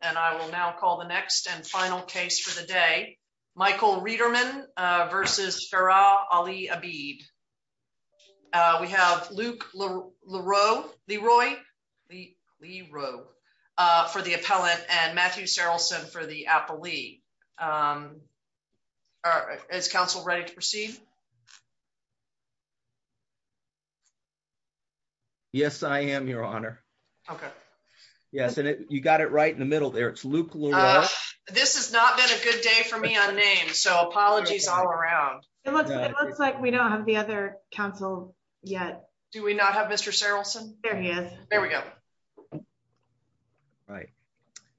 and I will now call the next and final case for the day. Michael Reiterman versus Farah Ali Abid. We have Luke Leroy for the appellant and Matthew Sarilson for the appellee. Yes, I am your honor. Okay. Yes, and you got it right in the middle there. It's Luke Leroy. This has not been a good day for me on name, so apologies all around. It looks like we don't have the other counsel yet. Do we not have Mr. Sarilson? There he is. There we go. All right.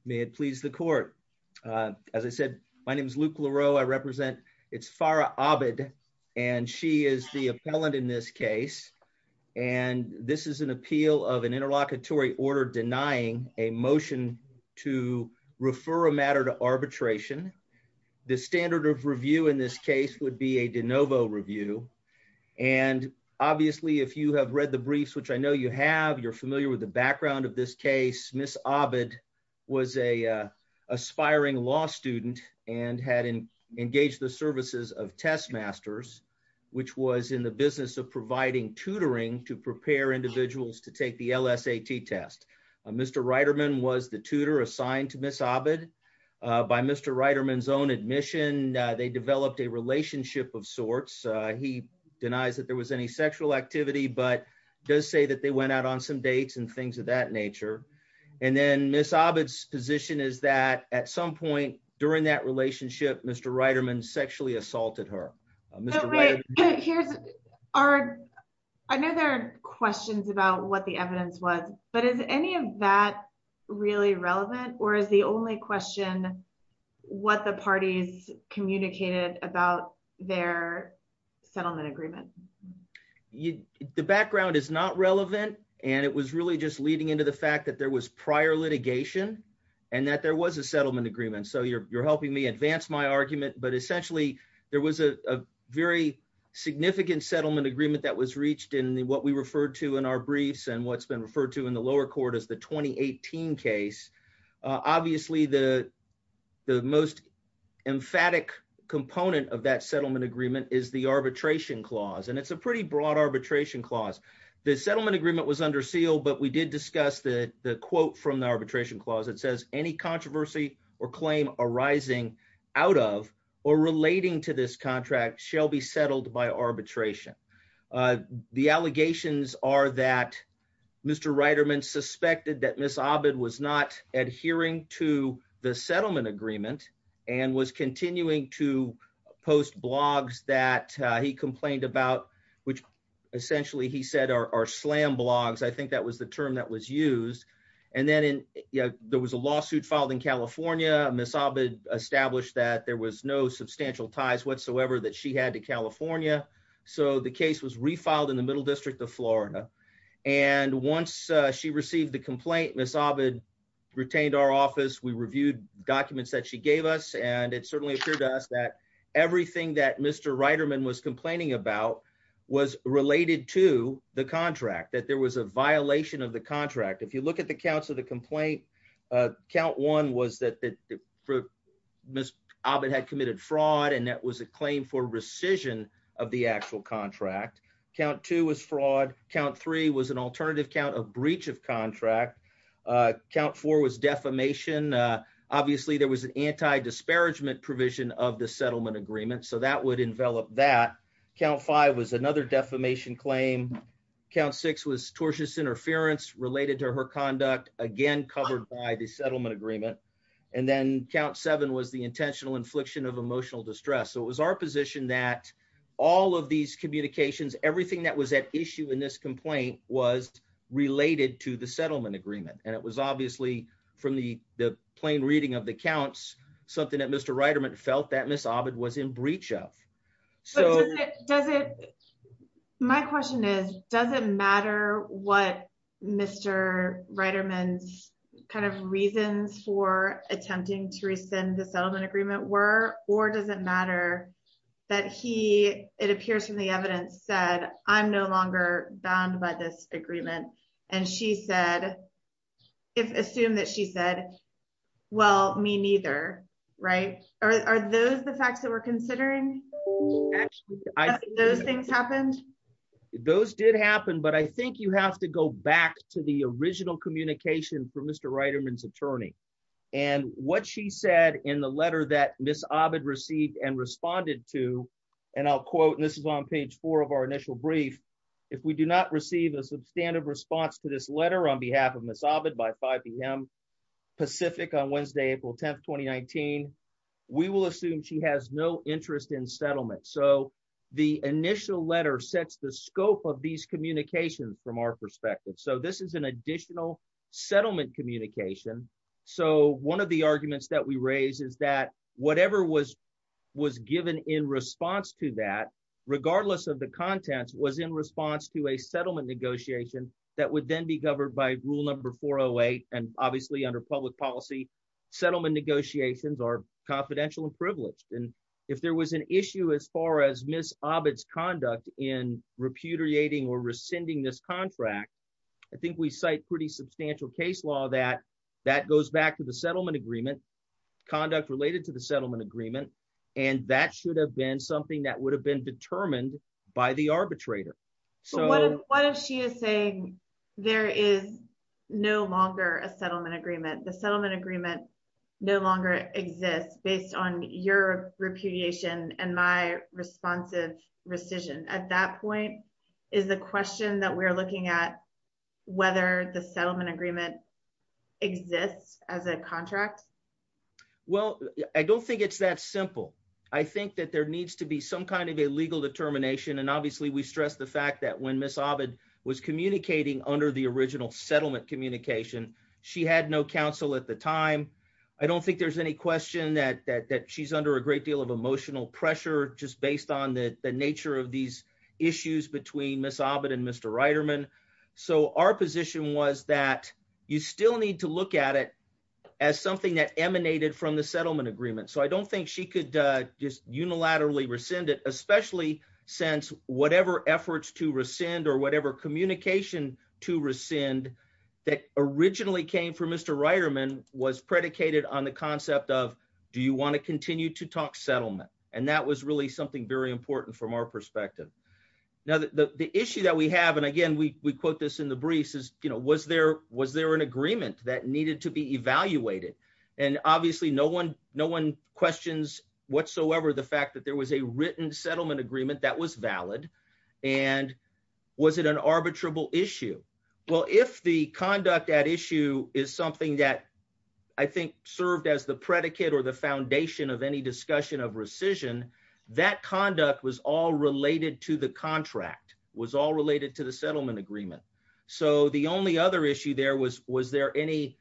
May it please the court. As I said, my name is Luke Leroy. I represent, it's Farah Abid and she is the appellant in this case and this is an appeal of an interlocutory order denying a motion to refer a matter to arbitration. The standard of review in this case would be a de novo review and obviously if you have read the briefs, which I have, you would know that at the time of this case, Ms. Abid was an aspiring law student and had engaged the services of test masters, which was in the business of providing tutoring to prepare individuals to take the LSAT test. Mr. Reiterman was the tutor assigned to Ms. Abid. By Mr. Reiterman's own admission, they developed a relationship of sorts. He denies that there was any sexual activity, but does say that they went out on some dates and things of that nature. And then Ms. Abid's position is that at some point during that relationship, Mr. Reiterman sexually assaulted her. I know there are questions about what the evidence was, but is any of that really relevant or is the only question what the parties communicated about their the background is not relevant and it was really just leading into the fact that there was prior litigation and that there was a settlement agreement. So you're helping me advance my argument, but essentially there was a very significant settlement agreement that was reached in what we referred to in our briefs and what's been referred to in the lower court as the 2018 case. Obviously the most emphatic component of that settlement agreement is the arbitration clause and it's a pretty broad arbitration clause. The settlement agreement was under seal, but we did discuss the the quote from the arbitration clause. It says any controversy or claim arising out of or relating to this contract shall be settled by arbitration. The allegations are that Mr. Reiterman suspected that Ms. Abid was not adhering to the settlement agreement and was which essentially he said are slam blogs. I think that was the term that was used. And then there was a lawsuit filed in California. Ms. Abid established that there was no substantial ties whatsoever that she had to California. So the case was refiled in the middle district of Florida and once she received the complaint, Ms. Abid retained our office. We reviewed documents that she gave us and it certainly appeared to us that everything that Mr. Reiterman was complaining about was related to the contract. That there was a violation of the contract. If you look at the counts of the complaint, count one was that Ms. Abid had committed fraud and that was a claim for rescission of the actual contract. Count two was fraud. Count three was an alternative count of breach of contract. Count four was defamation. Obviously there was an anti-disparagement provision of the settlement agreement, so that would envelop that. Count five was another defamation claim. Count six was tortious interference related to her conduct, again covered by the settlement agreement. And then count seven was the intentional infliction of emotional distress. So it was our position that all of these communications, everything that was at issue in this complaint was related to the settlement agreement. And it was obviously from the the plain reading of the counts something that Mr. Reiterman felt that Ms. Abid was in breach of. So does it, my question is, does it matter what Mr. Reiterman's kind of reasons for attempting to rescind the settlement agreement were? Or does it matter that he, it appears from the evidence, said I'm no longer bound by this agreement. And she said, if assumed that she said, well me neither, right? Are those the facts that we're considering? Those things happened? Those did happen, but I think you have to go back to the original communication from Mr. Reiterman's attorney. And what she said in the letter that Ms. Abid received and responded to, and I'll quote, and this is on page four of our initial brief, if we do not receive a substantive response to this letter on behalf of Ms. Abid by 5 p.m. Pacific on Wednesday, April 10, 2019, we will assume she has no interest in settlement. So the initial letter sets the scope of these communications from our perspective. So this is an additional settlement communication. So one of the arguments that we raise is that whatever was given in response to that, regardless of the contents, was in response to a settlement negotiation that would then be governed by rule number 408. And obviously under public policy, settlement negotiations are confidential and privileged. And if there was an issue as far as Ms. Abid's conduct in repudiating or rescinding this contract, I think we cite pretty substantial case law that that goes back to the settlement agreement, conduct related to the settlement agreement, and that should have been something that would have been determined by the arbitrator. So what if she is saying there is no longer a settlement agreement, the settlement agreement no longer exists based on your repudiation and my responsive rescission? At that point is the question that we're looking at whether the settlement agreement exists as a contract? Well, I don't think it's that simple. I think that there needs to be some kind of a legal determination. And obviously we stress the fact that when Ms. Abid was communicating under the original settlement communication, she had no counsel at the time. I don't think there's any question that she's under a great deal of emotional pressure just based on the nature of these issues between Ms. Abid and Mr. Reiterman. So our position was that you still need to look at it as something that emanated from the settlement agreement. So I don't think she could just unilaterally rescind it, especially since whatever efforts to rescind or whatever communication to rescind that originally came from Mr. Reiterman was predicated on the concept of, do you want to continue to talk settlement? And that was really something very important from our perspective. Now, the issue that we have, and again, we quote this in the briefs, is was there an agreement that needed to be evaluated? And obviously no one questions whatsoever the fact that there was a written settlement agreement that was valid. And was it an arbitrable issue? Well, if the conduct at issue is something that I think served as the predicate or the foundation of any discussion of rescission, that conduct was all related to the contract, was all related to the settlement agreement. So the only other issue there was, was there any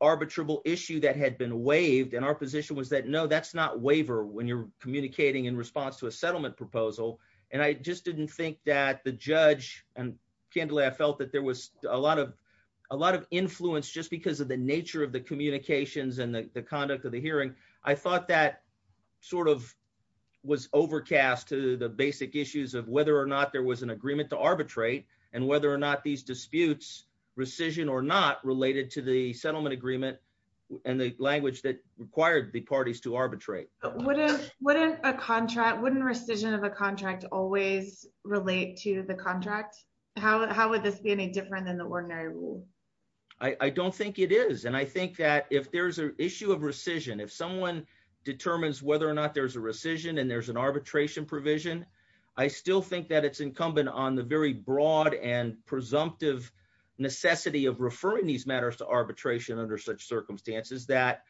arbitrable issue that had been waived? And our position was that, no, that's not waiver when you're communicating in response to a settlement proposal. And I just didn't think that the judge, and candidly, I felt that there was a lot of influence just because of the nature of the communications and the conduct of the hearing. I thought that sort of was overcast to the basic issues of whether or not there was an agreement to arbitrate, and whether or not these disputes, rescission or not, related to the settlement agreement and the language that required the parties to arbitrate. Wouldn't a contract, wouldn't rescission of a contract always relate to the contract? How would this be any different than the ordinary rule? I don't think it is. And I think that if there's an issue of rescission, if someone determines whether or not there's a rescission, and there's an arbitration provision, I still think that it's incumbent on the very broad and presumptive necessity of referring these matters to arbitration under such circumstances that,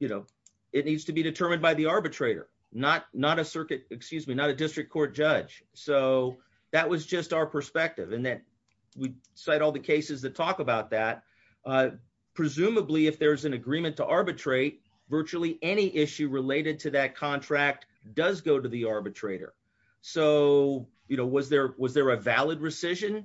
you know, it needs to be determined by the arbitrator, not a circuit, excuse me, a district court judge. So that was just our perspective. And then we cite all the cases that talk about that. Presumably, if there's an agreement to arbitrate, virtually any issue related to that contract does go to the arbitrator. So, you know, was there a valid rescission?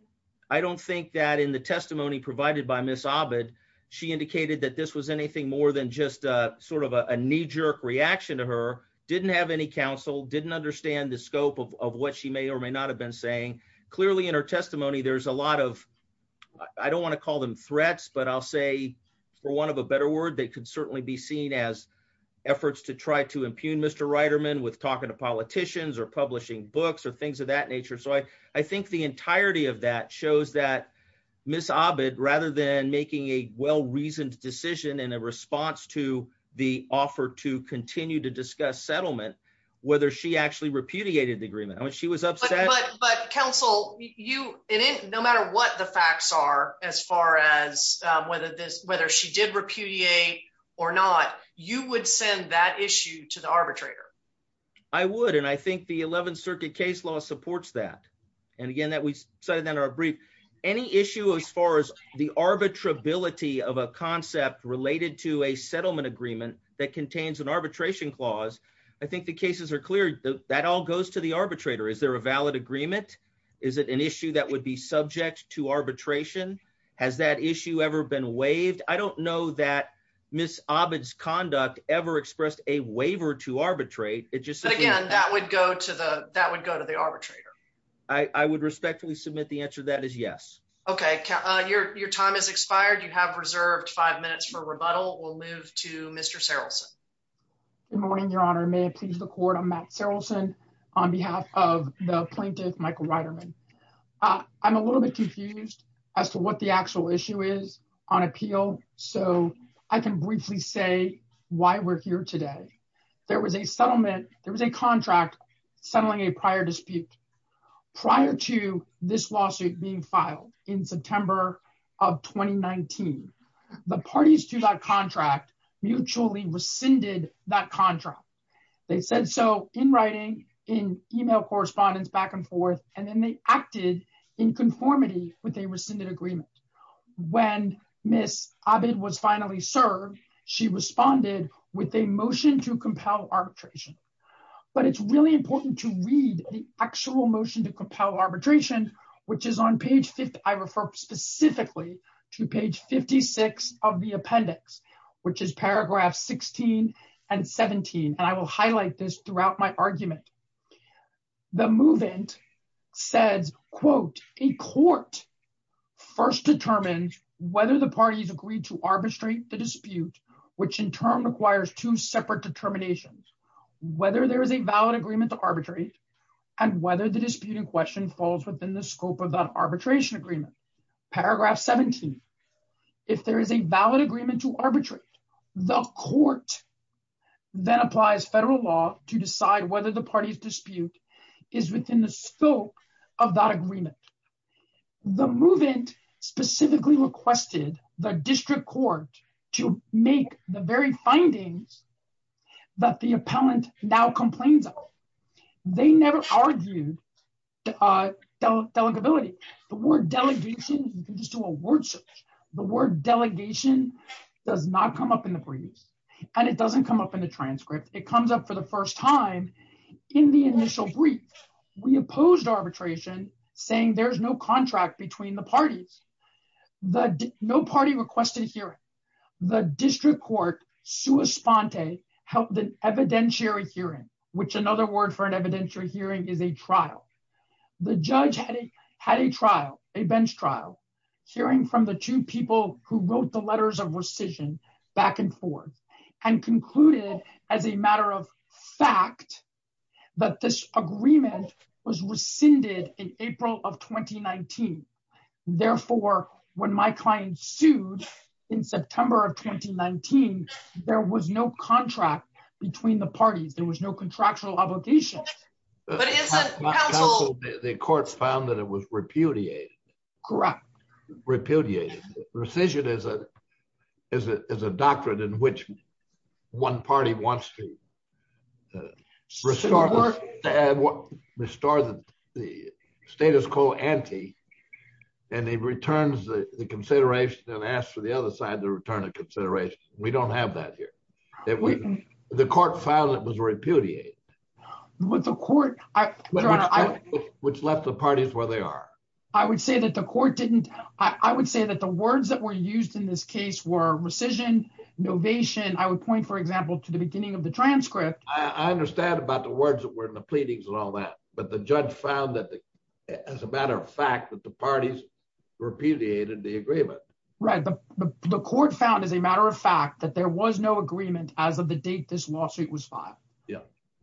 I don't think that in the testimony provided by Ms. Abad, she indicated that this was anything more than just a sort of a knee-jerk reaction to her, didn't have any counsel, didn't understand the scope of what she may or may not have been saying. Clearly, in her testimony, there's a lot of, I don't want to call them threats, but I'll say, for want of a better word, they could certainly be seen as efforts to try to impugn Mr. Reiterman with talking to politicians or publishing books or things of that nature. So I think the entirety of that shows that Ms. Abad, rather than making a well-reasoned decision in a response to the offer to continue to discuss settlement, whether she actually repudiated the agreement. I mean, she was upset. But counsel, no matter what the facts are, as far as whether she did repudiate or not, you would send that issue to the arbitrator? I would, and I think the 11th Circuit case law supports that. And again, that we cited in our brief, any issue as far as the arbitrability of a concept related to a settlement agreement that contains an arbitration clause, I think the cases are clear. That all goes to the arbitrator. Is there a valid agreement? Is it an issue that would be subject to arbitration? Has that issue ever been waived? I don't know that Ms. Abad's conduct ever expressed a waiver to arbitrate. But again, that would go to the arbitrator? I would respectfully submit the answer to that is yes. Okay. Your time has expired. You have reserved five minutes for rebuttal. We'll move to Mr. Sarilson. Good morning, Your Honor. May it please the Court, I'm Matt Sarilson on behalf of the plaintiff, Michael Ryderman. I'm a little bit confused as to what the actual issue is on appeal, so I can briefly say why we're here today. There was a settlement, there was a contract settling a prior dispute. Prior to this lawsuit being filed in September of 2019, the parties to that contract mutually rescinded that contract. They said so in writing, in email correspondence back and forth, and then they acted in conformity with a rescinded agreement. When Ms. Abad was finally served, she responded with a motion to compel arbitration. But it's really important to read the actual motion to compel arbitration, which is on page 5th. I refer specifically to page 56 of the appendix, which is paragraphs 16 and 17, and I will highlight this throughout my argument. The move-in says, quote, a court first determined whether the parties agreed to arbitrate the dispute, which in turn requires two separate determinations, whether there is a valid agreement to arbitrate and whether the dispute in question falls within the scope of that arbitration agreement. Paragraph 17, if there is a valid agreement to arbitrate, the court then applies federal law to decide whether the party's dispute is within the scope of that agreement. The move-in specifically requested the district court to make the very findings that the appellant now complains of. They never argued delegability. The word delegation, you can just do a word search. The word delegation does not come up in the briefs, and it doesn't come up in the transcript. It comes up for the first time in the initial brief. We opposed arbitration, saying there's no contract between the parties. The no party requested hearing. The district court, sua sponte, held an evidentiary hearing, which another word for an evidentiary hearing is a trial. The judge had a trial, a bench trial, hearing from the two people who wrote the letters of rescission back and forth and concluded as a when my client sued in September of 2019, there was no contract between the parties. There was no contractual obligation. The court found that it was repudiated. Correct. Repudiated. Rescission is a doctrine in which one party wants to restore the status quo ante, and it returns the consideration and asks for the other side to return a consideration. We don't have that here. The court found that it was repudiated. Which left the parties where they are. I would say that the court didn't. I would say that the words that were used in this case were rescission, novation. I would point, for example, to the beginning of the transcript. I understand about the words that were in the pleadings and all that, but the judge found that, as a matter of fact, that the parties repudiated the agreement. Right. The court found, as a matter of fact, that there was no agreement as of the date this lawsuit was filed.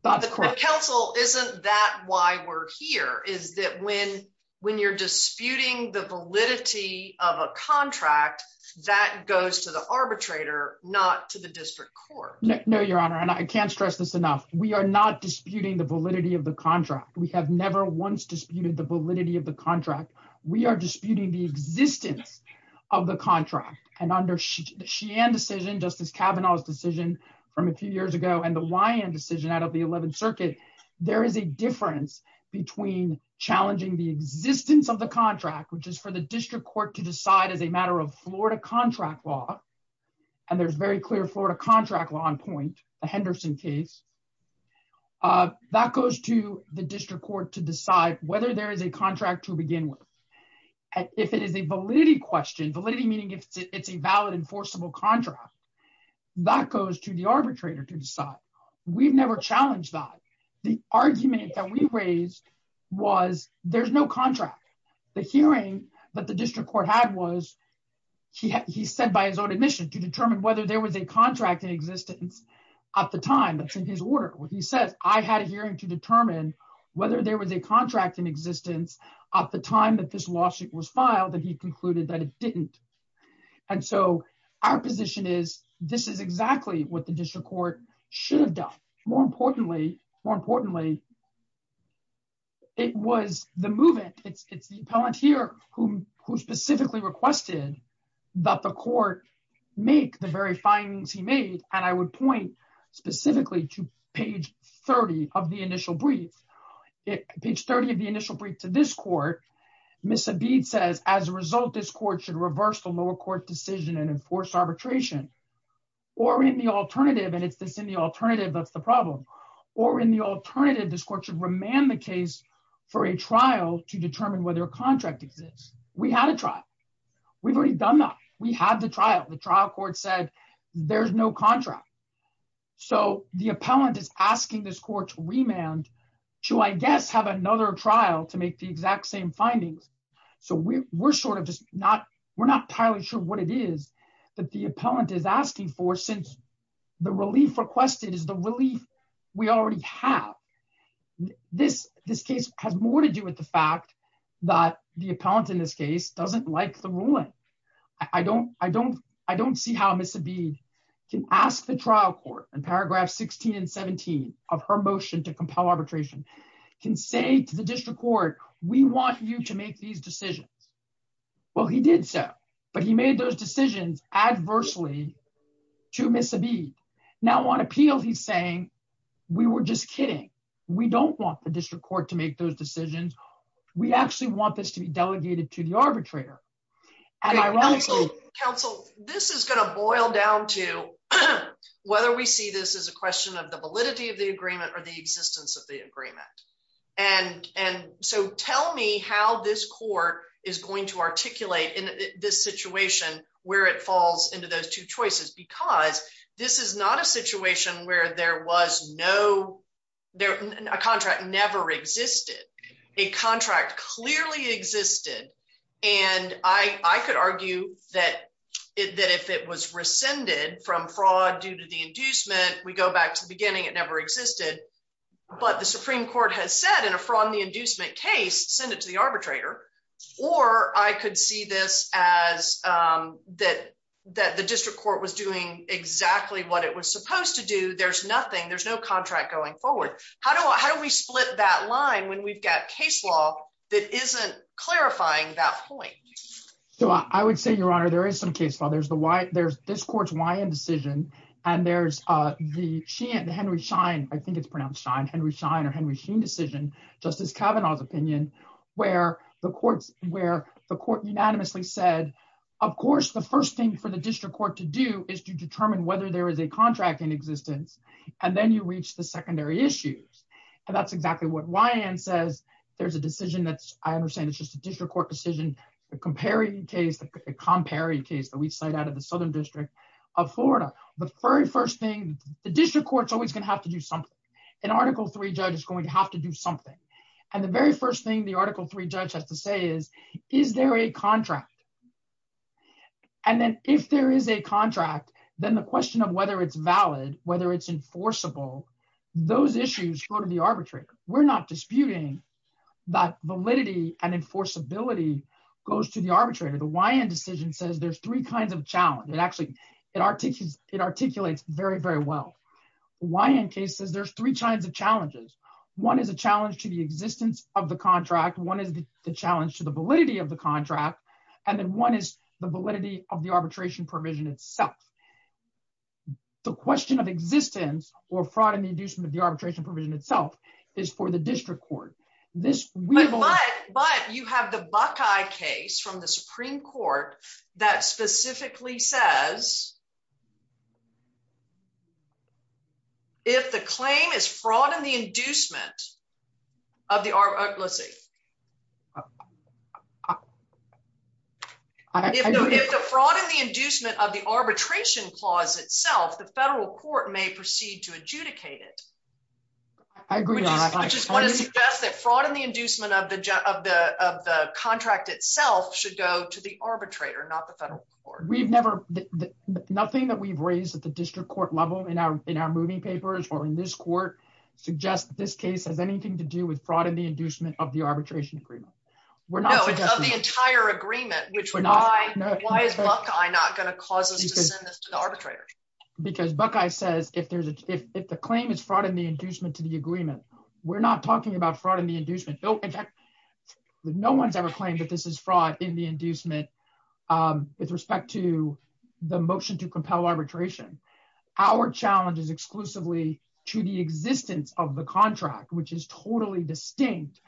The counsel isn't that why we're here, is that when you're disputing the validity of a contract, that goes to the arbitrator, not to the district court. No, Your Honor. I can't stress this enough. We are not disputing the validity of the contract. We have never once disputed the validity of the contract. We are disputing the existence of the contract. Under the Sheehan decision, Justice Kavanaugh's decision from a few years ago, and the Wyand decision out of the 11th Circuit, there is a difference between challenging the existence of the contract, which is for the district court to decide as a contract law, and there's very clear Florida contract law on point, the Henderson case, that goes to the district court to decide whether there is a contract to begin with. If it is a validity question, validity meaning it's a valid enforceable contract, that goes to the arbitrator to decide. We've never challenged that. The argument that we raised was, there's no contract. The hearing that the district court had was, he said by his own admission, to determine whether there was a contract in existence at the time that's in his order. When he says, I had a hearing to determine whether there was a contract in existence at the time that this lawsuit was filed, that he concluded that it didn't. And so our position is, this is exactly what the district court should have done. More importantly, it was the movement. It's the appellant here who specifically requested that the court make the very findings he made. And I would point specifically to page 30 of the initial brief. Page 30 of the initial brief to this court, Ms. Abed says, as a result, this court should reverse the lower court decision and enforce arbitration. Or in the alternative, and it's this in the alternative, that's the problem. Or in the alternative, this court should remand the case for a trial to determine whether a contract exists. We had a trial. We've already done that. We had the trial. The trial court said, there's no contract. So the appellant is asking this court to remand to, I guess, have another trial to make the exact same findings. So we're not entirely sure what it is that the appellant is asking for since the relief requested is the relief we already have. This case has more to do with the fact that the appellant in this case doesn't like the ruling. I don't see how Ms. Abed can ask the trial court in paragraphs 16 and 17 of her motion to compel arbitration, can say to the district court, we want you to make these decisions. Well, he did so. But he made those decisions adversely to Ms. Abed. Now, on appeal, he's saying, we were just kidding. We don't want the district court to make those decisions. We actually want this to be delegated to the arbitrator. And ironically- Counsel, this is going to boil down to whether we see this as a question of the validity of agreement. And so tell me how this court is going to articulate in this situation where it falls into those two choices. Because this is not a situation where there was no, a contract never existed. A contract clearly existed. And I could argue that if it was rescinded from fraud due to the inducement, we go back to the beginning, it never existed. But the Supreme Court has said in a fraud in the inducement case, send it to the arbitrator. Or I could see this as that the district court was doing exactly what it was supposed to do. There's nothing, there's no contract going forward. How do we split that line when we've got case law that isn't clarifying that point? So I would say, Your Honor, there is some case law. There's this court's Wyand decision. And there's the Henry Schein, I think it's pronounced Schein, Henry Schein or Henry Schein decision, Justice Kavanaugh's opinion, where the court unanimously said, of course, the first thing for the district court to do is to determine whether there is a contract in existence. And then you reach the secondary issues. And that's exactly what Wyand says. There's a decision that's, I understand it's just a district court decision, the Comperi case, the Comperi case that we cite out of the Southern District of Florida. The very first thing, the district court's always going to have to do something. An Article III judge is going to have to do something. And the very first thing the Article III judge has to say is, is there a contract? And then if there is a contract, then the question of whether it's valid, whether it's enforceable, those issues go to the arbitrator. We're not disputing that validity and goes to the arbitrator. The Wyand decision says there's three kinds of challenge. It actually, it articulates very, very well. Wyand case says there's three kinds of challenges. One is a challenge to the existence of the contract. One is the challenge to the validity of the contract. And then one is the validity of the arbitration provision itself. The question of existence or fraud in the inducement of the arbitration provision itself is for the district court. But you have the Buckeye case from the Supreme Court that specifically says if the claim is fraud in the inducement of the, let's see, if the fraud in the inducement of the arbitration clause itself, the federal court may proceed to fraud in the inducement of the, of the, of the contract itself should go to the arbitrator, not the federal court. We've never, nothing that we've raised at the district court level in our, in our moving papers or in this court suggest that this case has anything to do with fraud in the inducement of the arbitration agreement. We're not suggesting the entire agreement, which we're not, why is Buckeye not going to cause us to send this to the arbitrator? Because Buckeye says if there's a, if, if the claim is fraud in the inducement to the agreement, we're not talking about fraud in the inducement. In fact, no one's ever claimed that this is fraud in the inducement with respect to the motion to compel arbitration. Our challenge is exclusively to the existence of the contract, which is totally distinct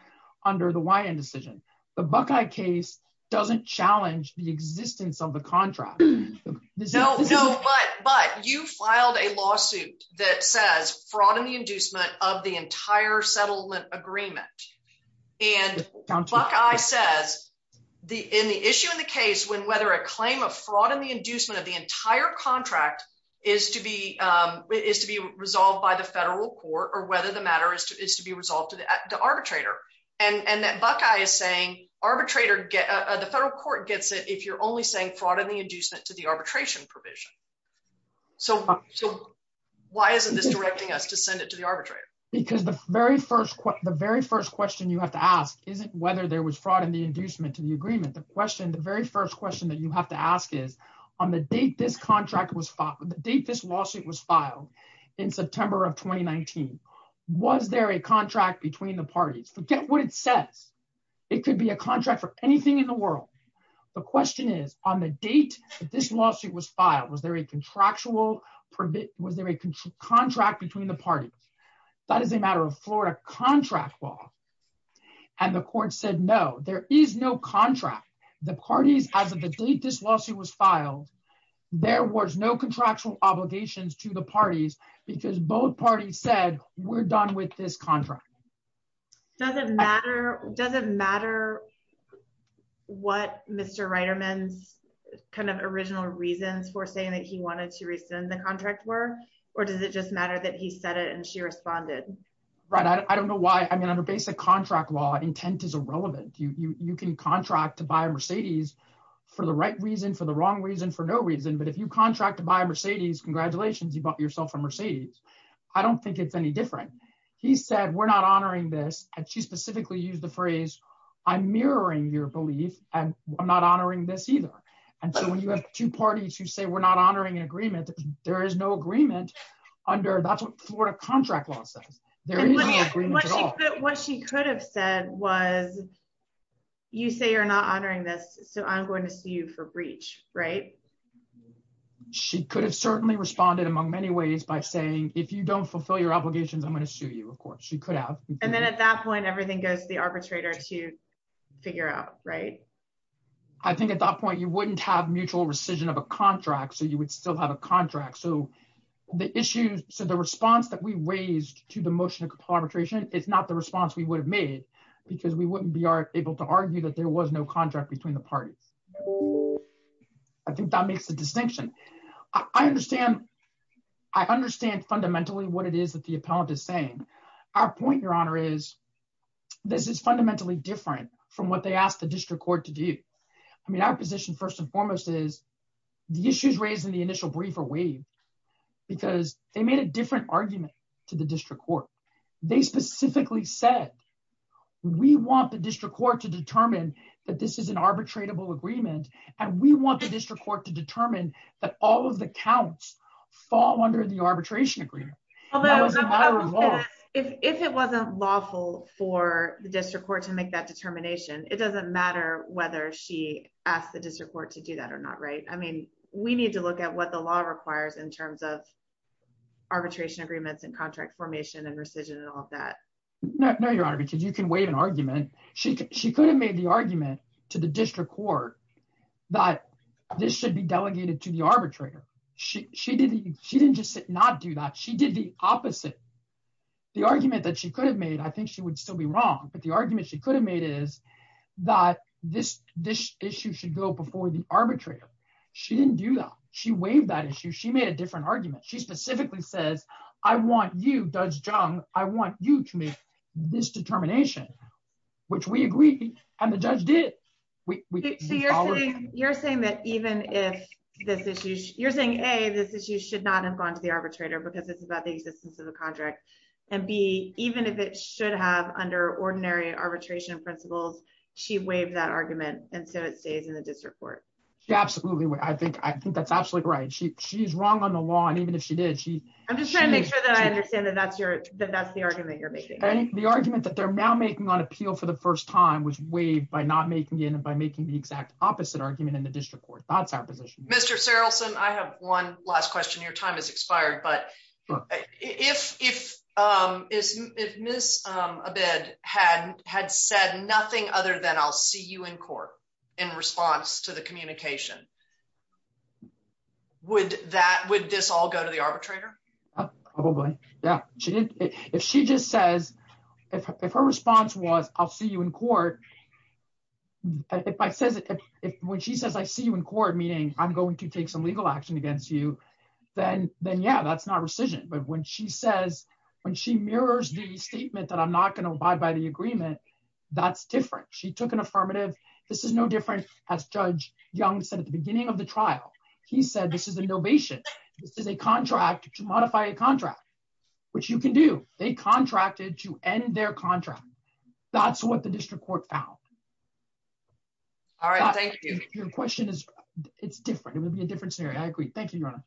under the Wyand decision. The Buckeye case doesn't challenge the existence of the contract. No, no, but, but you filed a lawsuit that says fraud in the inducement of the entire settlement agreement. And Buckeye says the, in the issue in the case, when, whether a claim of fraud in the inducement of the entire contract is to be, is to be resolved by the federal court or whether the matter is to, is to be resolved to the arbitrator. And, and that Buckeye is saying arbitrator get, the federal court gets it if you're only saying fraud in the inducement to the arbitration provision. So, so why isn't this directing us to send it to the arbitrator? Because the very first, the very first question you have to ask isn't whether there was fraud in the inducement to the agreement. The question, the very first question that you have to ask is on the date this contract was filed, the date this lawsuit was filed in September of 2019, was there a contract between the parties? Forget what it says. It could be a contract for anything in the world. The question is on the date that this lawsuit was filed, was there a contractual permit? Was there a contract between the parties? That is a matter of Florida contract law. And the court said, no, there is no contract. The parties, as of the date this lawsuit was filed, there was no contractual obligations to the parties because both parties said we're done with this contract. Does it matter, does it matter what Mr. Reiterman's kind of original reasons for saying that he wanted to rescind the contract were, or does it just matter that he said it and she responded? Right. I don't know why. I mean, under basic contract law, intent is irrelevant. You can contract to buy a Mercedes for the right reason, for no reason. But if you contract to buy a Mercedes, congratulations, you bought yourself a Mercedes. I don't think it's any different. He said, we're not honoring this. And she specifically used the phrase, I'm mirroring your belief and I'm not honoring this either. And so when you have two parties who say we're not honoring an agreement, there is no agreement under, that's what Florida contract law says. There is no agreement at all. What she could have said was, you say you're not honoring this, so I'm going to sue you for breach, right? She could have certainly responded among many ways by saying, if you don't fulfill your obligations, I'm going to sue you. Of course, she could have. And then at that point, everything goes to the arbitrator to figure out, right? I think at that point, you wouldn't have mutual rescission of a contract. So you would still have a contract. So the issues, so the response that we raised to the motion of complimentation is not the response we would have made because we wouldn't be able to argue that there was no between the parties. I think that makes a distinction. I understand fundamentally what it is that the appellant is saying. Our point, your honor, is this is fundamentally different from what they asked the district court to do. I mean, our position first and foremost is the issues raised in the initial brief are waived because they made a different argument to the district court. They specifically said we want the district court to determine that this is an arbitratable agreement. And we want the district court to determine that all of the counts fall under the arbitration agreement. If it wasn't lawful for the district court to make that determination, it doesn't matter whether she asked the district court to do that or not, right? I mean, we need to look at what the law requires in terms of arbitration agreements and contract formation and rescission and all of that. No, your honor, because you can waive an argument. She could have made the argument to the district court that this should be delegated to the arbitrator. She didn't just not do that. She did the opposite. The argument that she could have made, I think she would still be wrong, but the argument she could have made is that this issue should go before the arbitrator. She didn't do that. She waived that issue. She made a different argument. She specifically says I want you, Judge Jung, I want you to make this determination, which we agree. And the judge did. You're saying that even if this issue, you're saying A, this issue should not have gone to the arbitrator because it's about the existence of the contract. And B, even if it should have under ordinary arbitration principles, she waived that argument. And so it stays in the district court. She absolutely would. I think that's absolutely right. She's wrong on the law. I'm just trying to make sure that I understand that that's the argument you're making. The argument that they're now making on appeal for the first time was waived by not making it and by making the exact opposite argument in the district court. That's our position. Mr. Sarilson, I have one last question. Your time has expired. But if Ms. Abed had said nothing other than I'll see you in court in response to the communication, would that, would this all go to the arbitrator? Probably. Yeah, she did. If she just says, if her response was, I'll see you in court, if I says it, if when she says I see you in court, meaning I'm going to take some legal action against you, then yeah, that's not rescission. But when she says, when she mirrors the statement that I'm not going to abide by the agreement, that's different. She took an affirmative. This is no different. As Judge Jung said at the time, beginning of the trial, he said, this is a novation. This is a contract to modify a contract, which you can do. They contracted to end their contract. That's what the district court found. All right. Thank you. Your question is, it's different. It would be a different scenario. I agree. Thank you, Your Honor.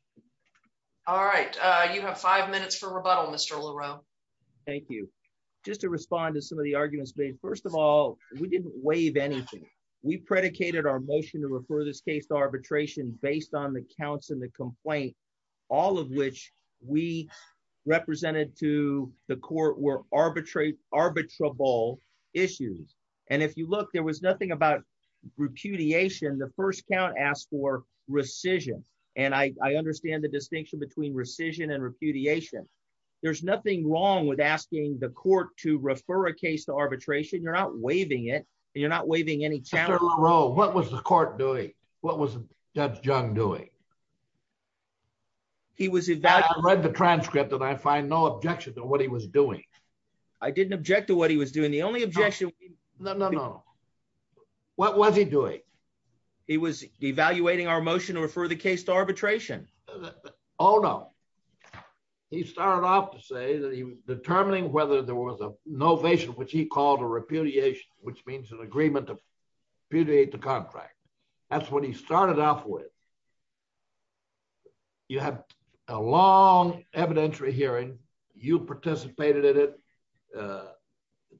All right. You have five minutes for rebuttal, Mr. Leroux. Thank you. Just to respond to some of the arguments made, first of all, we didn't waive anything. We predicated our motion to refer this case to arbitration based on the counts in the complaint, all of which we represented to the court were arbitrable issues. And if you look, there was nothing about repudiation. The first count asked for rescission. And I understand the distinction between rescission and repudiation. There's a difference. You're not waiving any counts. Mr. Leroux, what was the court doing? What was Judge Jung doing? I read the transcript, and I find no objection to what he was doing. I didn't object to what he was doing. The only objection... No, no, no. What was he doing? He was evaluating our motion to refer the case to arbitration. Oh, no. He started off to say that he was determining whether there was a novation, which he called a repudiation, which means an agreement to repudiate the contract. That's what he started off with. You have a long evidentiary hearing. You participated in it. The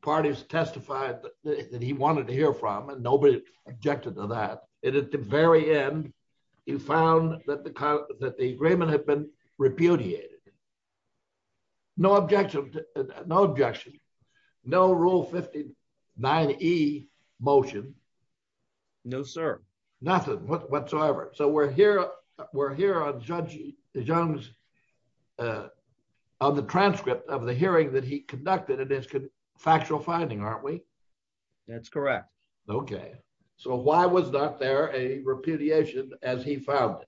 parties testified that he wanted to hear from, and nobody objected to that. And at the very end, you found that the agreement had been repudiated. No objection. No rule 59E motion. No, sir. Nothing whatsoever. So we're here on Judge Jung's... On the transcript of the hearing that he conducted, and it's factual finding, aren't we? That's correct. Okay. So why was there a repudiation as he found it?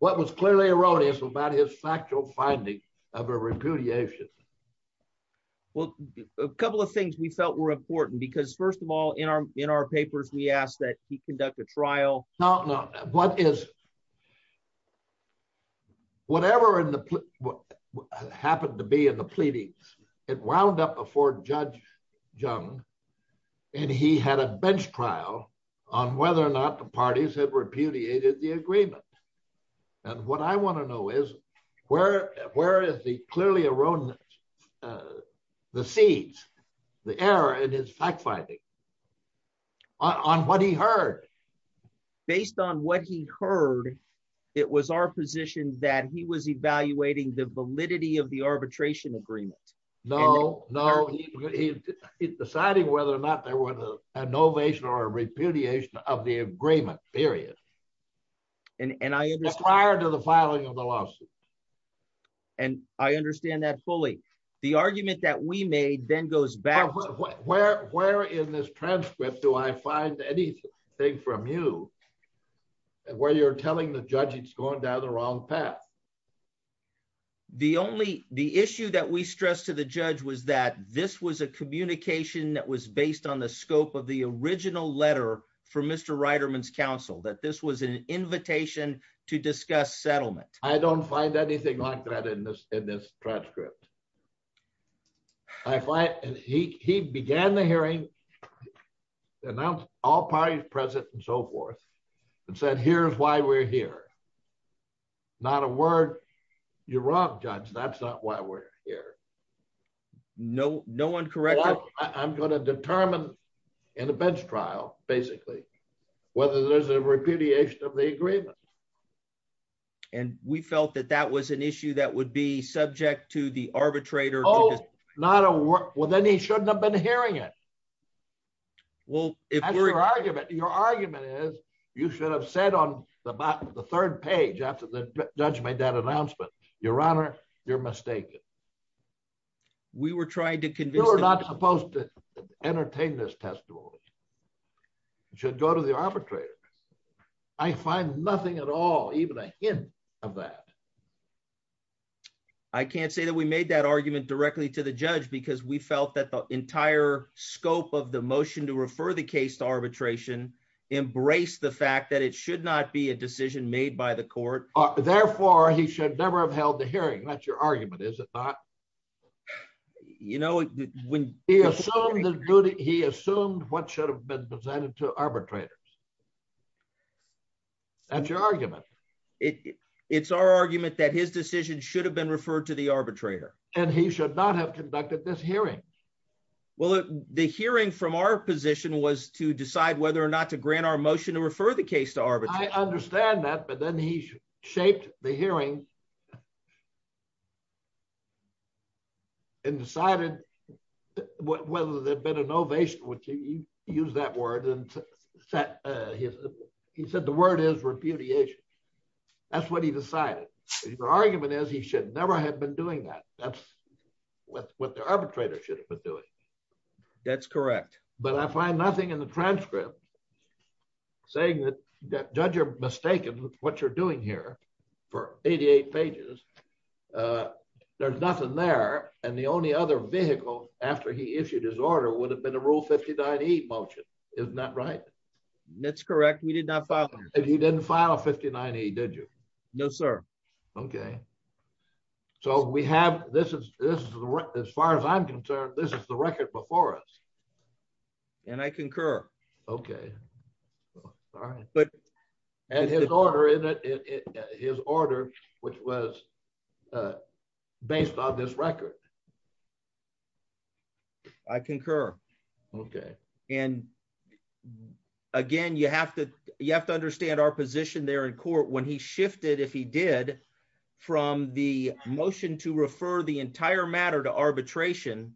What was clearly erroneous about his factual finding of a repudiation? Well, a couple of things we felt were important, because first of all, in our papers, we asked that he conduct a trial. No, no. What is... Whatever happened to be in the pleadings, it wound up before Judge Jung, and he had a bench trial on whether or not the parties had repudiated the agreement. And what I want to know is, where is the clearly erroneous, the seeds, the error in his fact finding on what he heard? Based on what he heard, it was our position that he was evaluating the whether or not there was an innovation or a repudiation of the agreement, period, prior to the filing of the lawsuit. And I understand that fully. The argument that we made then goes back... Where in this transcript do I find anything from you, where you're telling the judge it's going down the wrong path? The only... The issue that we stressed to the judge was that this was a communication that was based on the scope of the original letter from Mr. Reiterman's counsel, that this was an invitation to discuss settlement. I don't find anything like that in this transcript. I find... He began the hearing, announced all parties present and so forth, and said, here's why we're here. Not a word. You're wrong, judge. That's not why we're here. No, no one corrected. I'm going to determine in a bench trial, basically, whether there's a repudiation of the agreement. And we felt that that was an issue that would be subject to the arbitrator. Oh, not a word. Well, then he shouldn't have been hearing it. Well, your argument is you should have said on the third page after the judge made that announcement, your honor, you're mistaken. We were trying to convince... You're not supposed to entertain this testimony. It should go to the arbitrator. I find nothing at all, even a hint of that. I can't say that we made that argument directly to the judge because we felt that the entire scope of the motion to refer the case to arbitration embraced the fact that it should not be a decision made by the court. Therefore, he should never have held the hearing. That's your argument, is it not? He assumed what should have been presented to arbitrators. That's your argument. It's our argument that his decision should have been referred to the arbitrator. And he should not have conducted this hearing. Well, the hearing from our position was to decide whether or not to grant our motion to refer the case to arbitration. I understand that, but then he shaped the hearing and decided whether there'd been an ovation, which he used that word and he said the word is repudiation. That's what he decided. His argument is he should never have been doing that. That's what the arbitrator should have been doing. That's correct. But I find nothing in the transcript saying that judge, you're mistaken with what you're doing here for 88 pages. There's nothing there. And the only other vehicle after he issued his order would have been a rule 59E motion. Isn't that right? That's correct. We did not file. And you didn't file a 59E, did you? No, sir. Okay. So we have, this is, as far as I'm concerned, this is the record before us. And I concur. Okay. And his order in it, his order, which was based on this record. I concur. Okay. And again, you have to, you have to understand our position there in court when he shifted, if he did, from the motion to refer the entire matter to arbitration,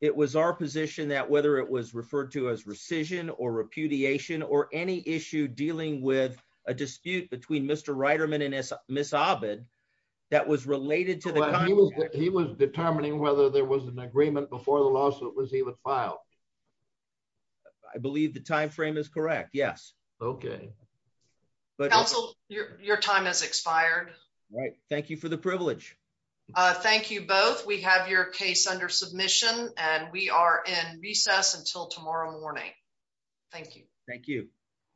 it was our position that whether it was referred to as rescission or repudiation or any issue dealing with a dispute between Mr. Reiterman and Ms. Abed, that was related to the contract. He was determining whether there was an agreement before the lawsuit was even filed. I believe the timeframe is correct. Yes. Okay. Counsel, your time has expired. Right. Thank you for the privilege. Thank you both. We have your case under submission and we are in recess until tomorrow morning. Thank you. Thank you.